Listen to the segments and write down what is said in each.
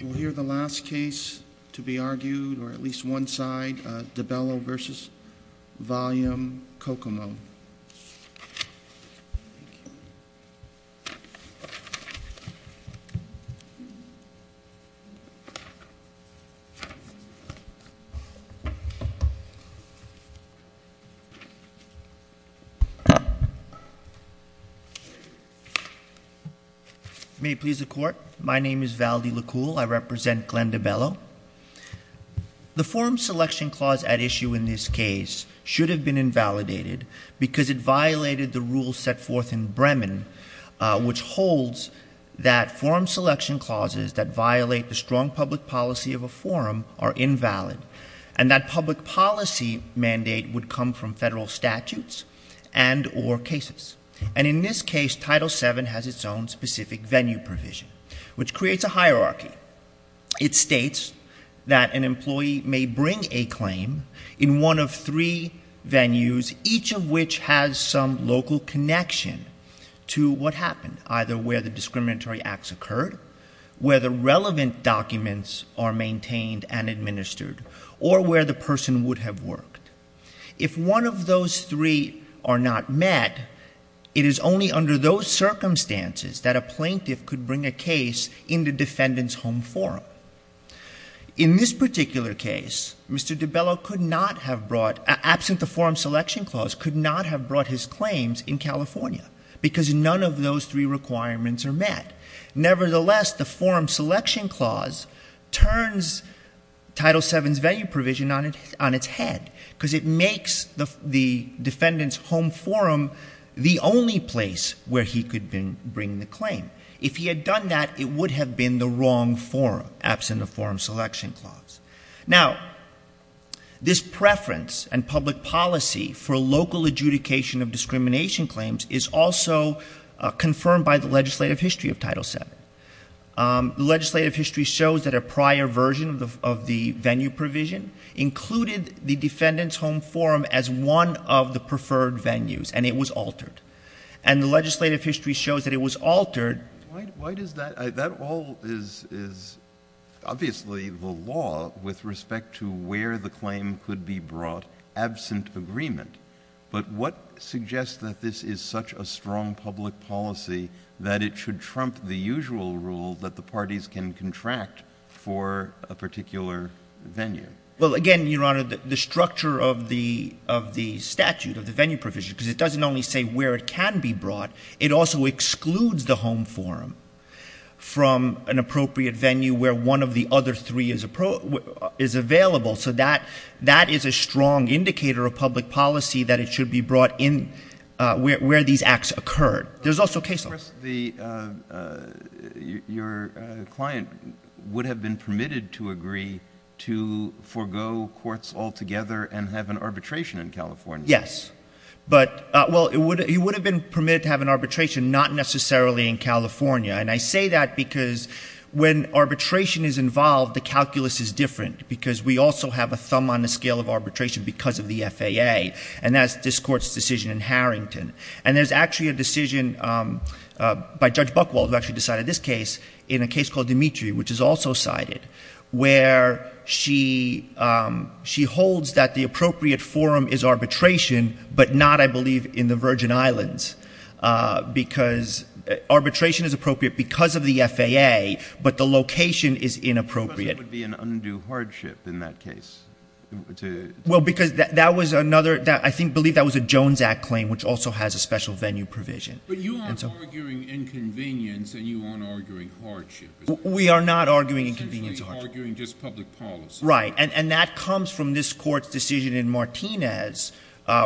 We'll hear the last case to be argued, or at least one side, DeBello v. VolumeCocomo. Thank you. May it please the Court. My name is Valdi Likul. I represent Glenda Bello. The forum selection clause at issue in this case should have been invalidated because it violated the rules set forth in Bremen, which holds that forum selection clauses that violate the strong public policy of a forum are invalid, and that public policy mandate would come from federal statutes and or cases. And in this case, Title VII has its own specific venue provision, which creates a hierarchy. It states that an employee may bring a claim in one of three venues, each of which has some local connection to what happened, either where the discriminatory acts occurred, where the relevant documents are maintained and administered, or where the person would have worked. If one of those three are not met, it is only under those circumstances that a plaintiff could bring a case in the defendant's home. In this particular case, Mr. DeBello could not have brought, absent the forum selection clause, could not have brought his claims in California, because none of those three requirements are met. Nevertheless, the forum selection clause turns Title VII's venue provision on its head, because it makes the defendant's home forum the only place where he could bring the claim. If he had done that, it would have been the wrong forum, absent the forum selection clause. Now, this preference and public policy for local adjudication of discrimination claims is also confirmed by the legislative history of Title VII. The legislative history shows that a prior version of the venue provision included the defendant's home forum as one of the preferred venues, and it was altered. And the legislative history shows that it was altered. Why does that — that all is obviously the law with respect to where the claim could be brought, absent agreement. But what suggests that this is such a strong public policy that it should trump the usual rule that the parties can contract for a particular venue? Well, again, Your Honor, the structure of the statute, of the venue provision, because it doesn't only say where the venue provision is, it says where the venue provision is. And where it can be brought, it also excludes the home forum from an appropriate venue where one of the other three is available. So that is a strong indicator of public policy that it should be brought in where these acts occurred. There's also case law. But, of course, your client would have been permitted to agree to forego courts altogether and have an arbitration in California. Yes. But — well, he would have been permitted to have an arbitration, not necessarily in California. And I say that because when arbitration is involved, the calculus is different, because we also have a thumb on the scale of arbitration because of the FAA. And that's this Court's decision in Harrington. And there's actually a decision by Judge Buchwald, who actually decided this case, in a case called Dimitri, which is also cited, where she holds that the appropriate forum is arbitration, but not, I believe, in the Virgin Islands. Because arbitration is appropriate because of the FAA, but the location is inappropriate. But that would be an undue hardship in that case. Well, because that was another — I believe that was a Jones Act claim, which also has a special venue provision. But you aren't arguing inconvenience and you aren't arguing hardship. We are not arguing inconvenience or hardship. Essentially arguing just public policy. Right. And that comes from this Court's decision in Martinez,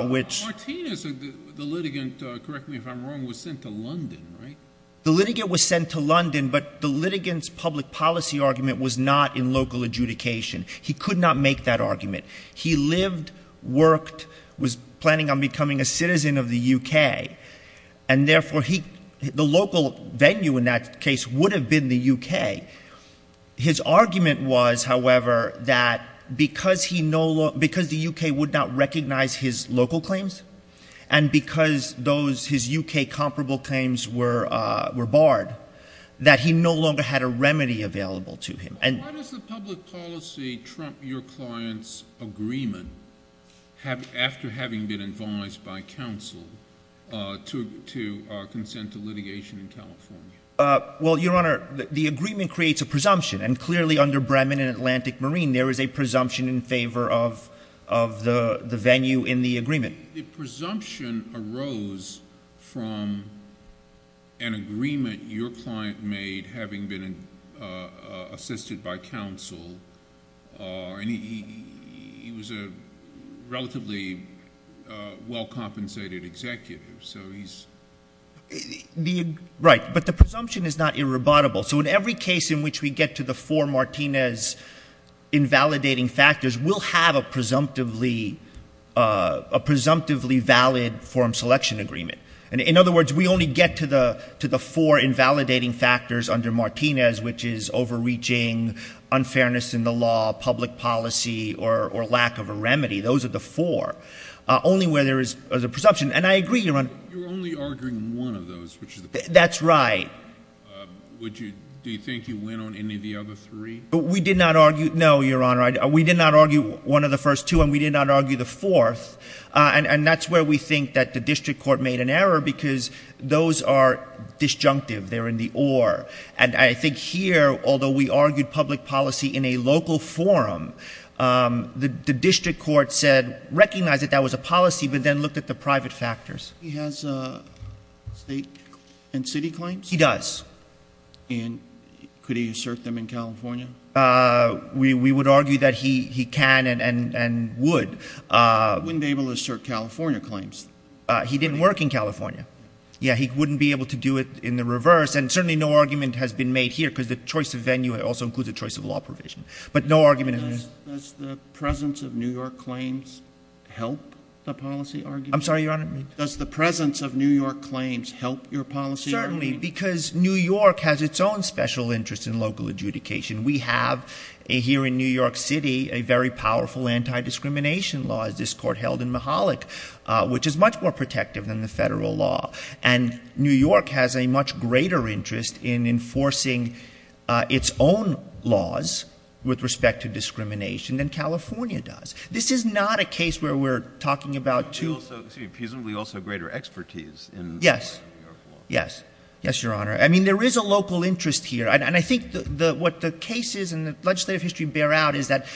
which — Martinez, the litigant — correct me if I'm wrong — was sent to London, right? The litigant was sent to London, but the litigant's public policy argument was not in local adjudication. He could not make that argument. He lived, worked, was planning on becoming a citizen of the U.K. And therefore he — the local venue in that case would have been the U.K. His argument was, however, that because he no — because the U.K. would not recognize his local claims, and because those — his U.K. comparable claims were barred, that he no longer had a remedy available to him. Why does the public policy trump your client's agreement after having been advised by counsel to consent to litigation in California? Well, Your Honor, the agreement creates a presumption. And clearly under Bremen and Atlantic Marine, there is a presumption in favor of the venue in the agreement. The presumption arose from an agreement your client made having been assisted by counsel, and he was a relatively well-compensated executive, so he's — right, but the presumption is not irrebuttable. So in every case in which we get to the four Martinez invalidating factors, we'll have a presumptively — a presumptively valid form selection agreement. In other words, we only get to the — to the four invalidating factors under Martinez, which is overreaching, unfairness in the law, public policy, or lack of a remedy. Those are the four. Only where there is a presumption — and I agree, Your Honor. You're only arguing one of those, which is the — That's right. Would you — do you think you went on any of the other three? We did not argue — no, Your Honor, we did not argue one of the first two, and we did not argue the fourth. And that's where we think that the district court made an error, because those are disjunctive. They're in the or. And I think here, although we argued public policy in a local forum, the district court said, recognize that that was a policy, but then looked at the private factors. He has state and city claims? He does. And could he assert them in California? We would argue that he can and would. He wouldn't be able to assert California claims? He didn't work in California. Yeah, he wouldn't be able to do it in the reverse. And certainly no argument has been made here, because the choice of venue also includes a choice of law provision. But no argument — Does the presence of New York claims help your policy argument? Certainly, because New York has its own special interest in local adjudication. We have here in New York City a very powerful anti-discrimination law, as this court held in Mahalik, which is much more protective than the federal law. And New York has a much greater interest in enforcing its own laws with respect to discrimination than California does. This is not a case where we're talking about two — Yes. Yes. Yes, Your Honor. I mean, there is a local interest here. And I think what the cases in the legislative history bear out is that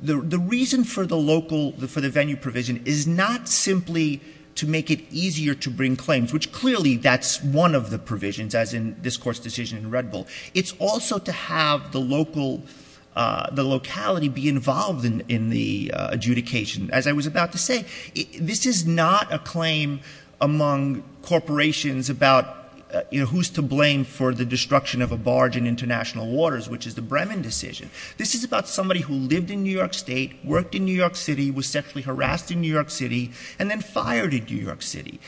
the reason for the local — for the venue provision is not simply to make it easier to bring claims, which clearly that's one of the provisions, as in this Court's decision in Red Bull. It's also to have the local — the locality be involved in the adjudication. As I was about to say, this is not a claim among corporations about, you know, who's to blame for the destruction of a barge in international waters, which is the Bremen decision. This is about somebody who lived in New York State, worked in New York City, was sexually harassed in New York City, and then fired in New York City.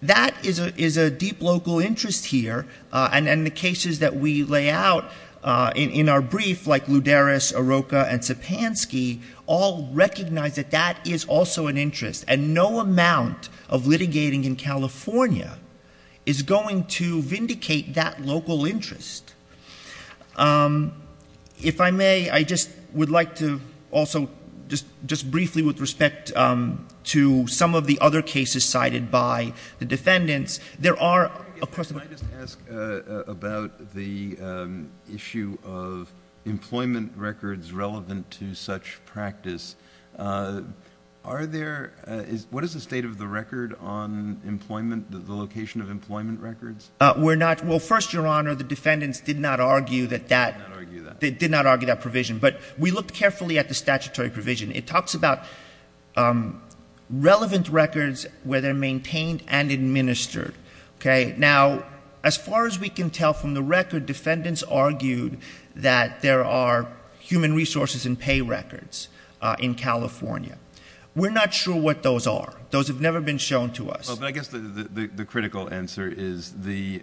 That is a deep local interest here. And the cases that we lay out in our brief, like Louderis, Arroka, and Sapansky, all recognize that that is also an interest. And no amount of litigating in California is going to vindicate that local interest. If I may, I just would like to also just briefly, with respect to some of the other cases cited by the defendants, there are — Can I just ask about the issue of employment records relevant to such practice? Are there — what is the state of the record on employment, the location of employment records? We're not — well, first, Your Honor, the defendants did not argue that that — Now, as far as we can tell from the record, defendants argued that there are human resources and pay records in California. We're not sure what those are. Those have never been shown to us. Well, but I guess the critical answer is the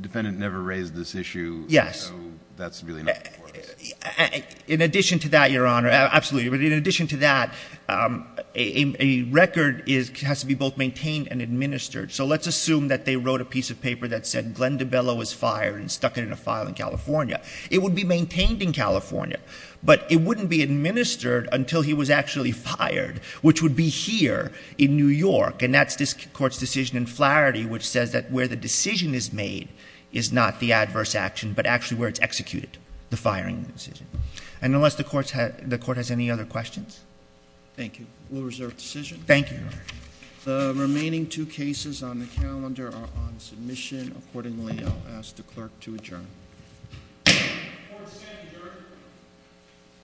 defendant never raised this issue. Yes. No, that's really not the case. In addition to that, Your Honor — absolutely. But in addition to that, a record has to be both maintained and administered. So let's assume that they wrote a piece of paper that said Glenn DiBello was fired and stuck it in a file in California. It would be maintained in California, but it wouldn't be administered until he was actually fired, which would be here in New York. And that's this Court's decision in Flaherty, which says that where the decision is made is not the adverse action, but actually where it's executed, the firing decision. And unless the Court has any other questions. Thank you.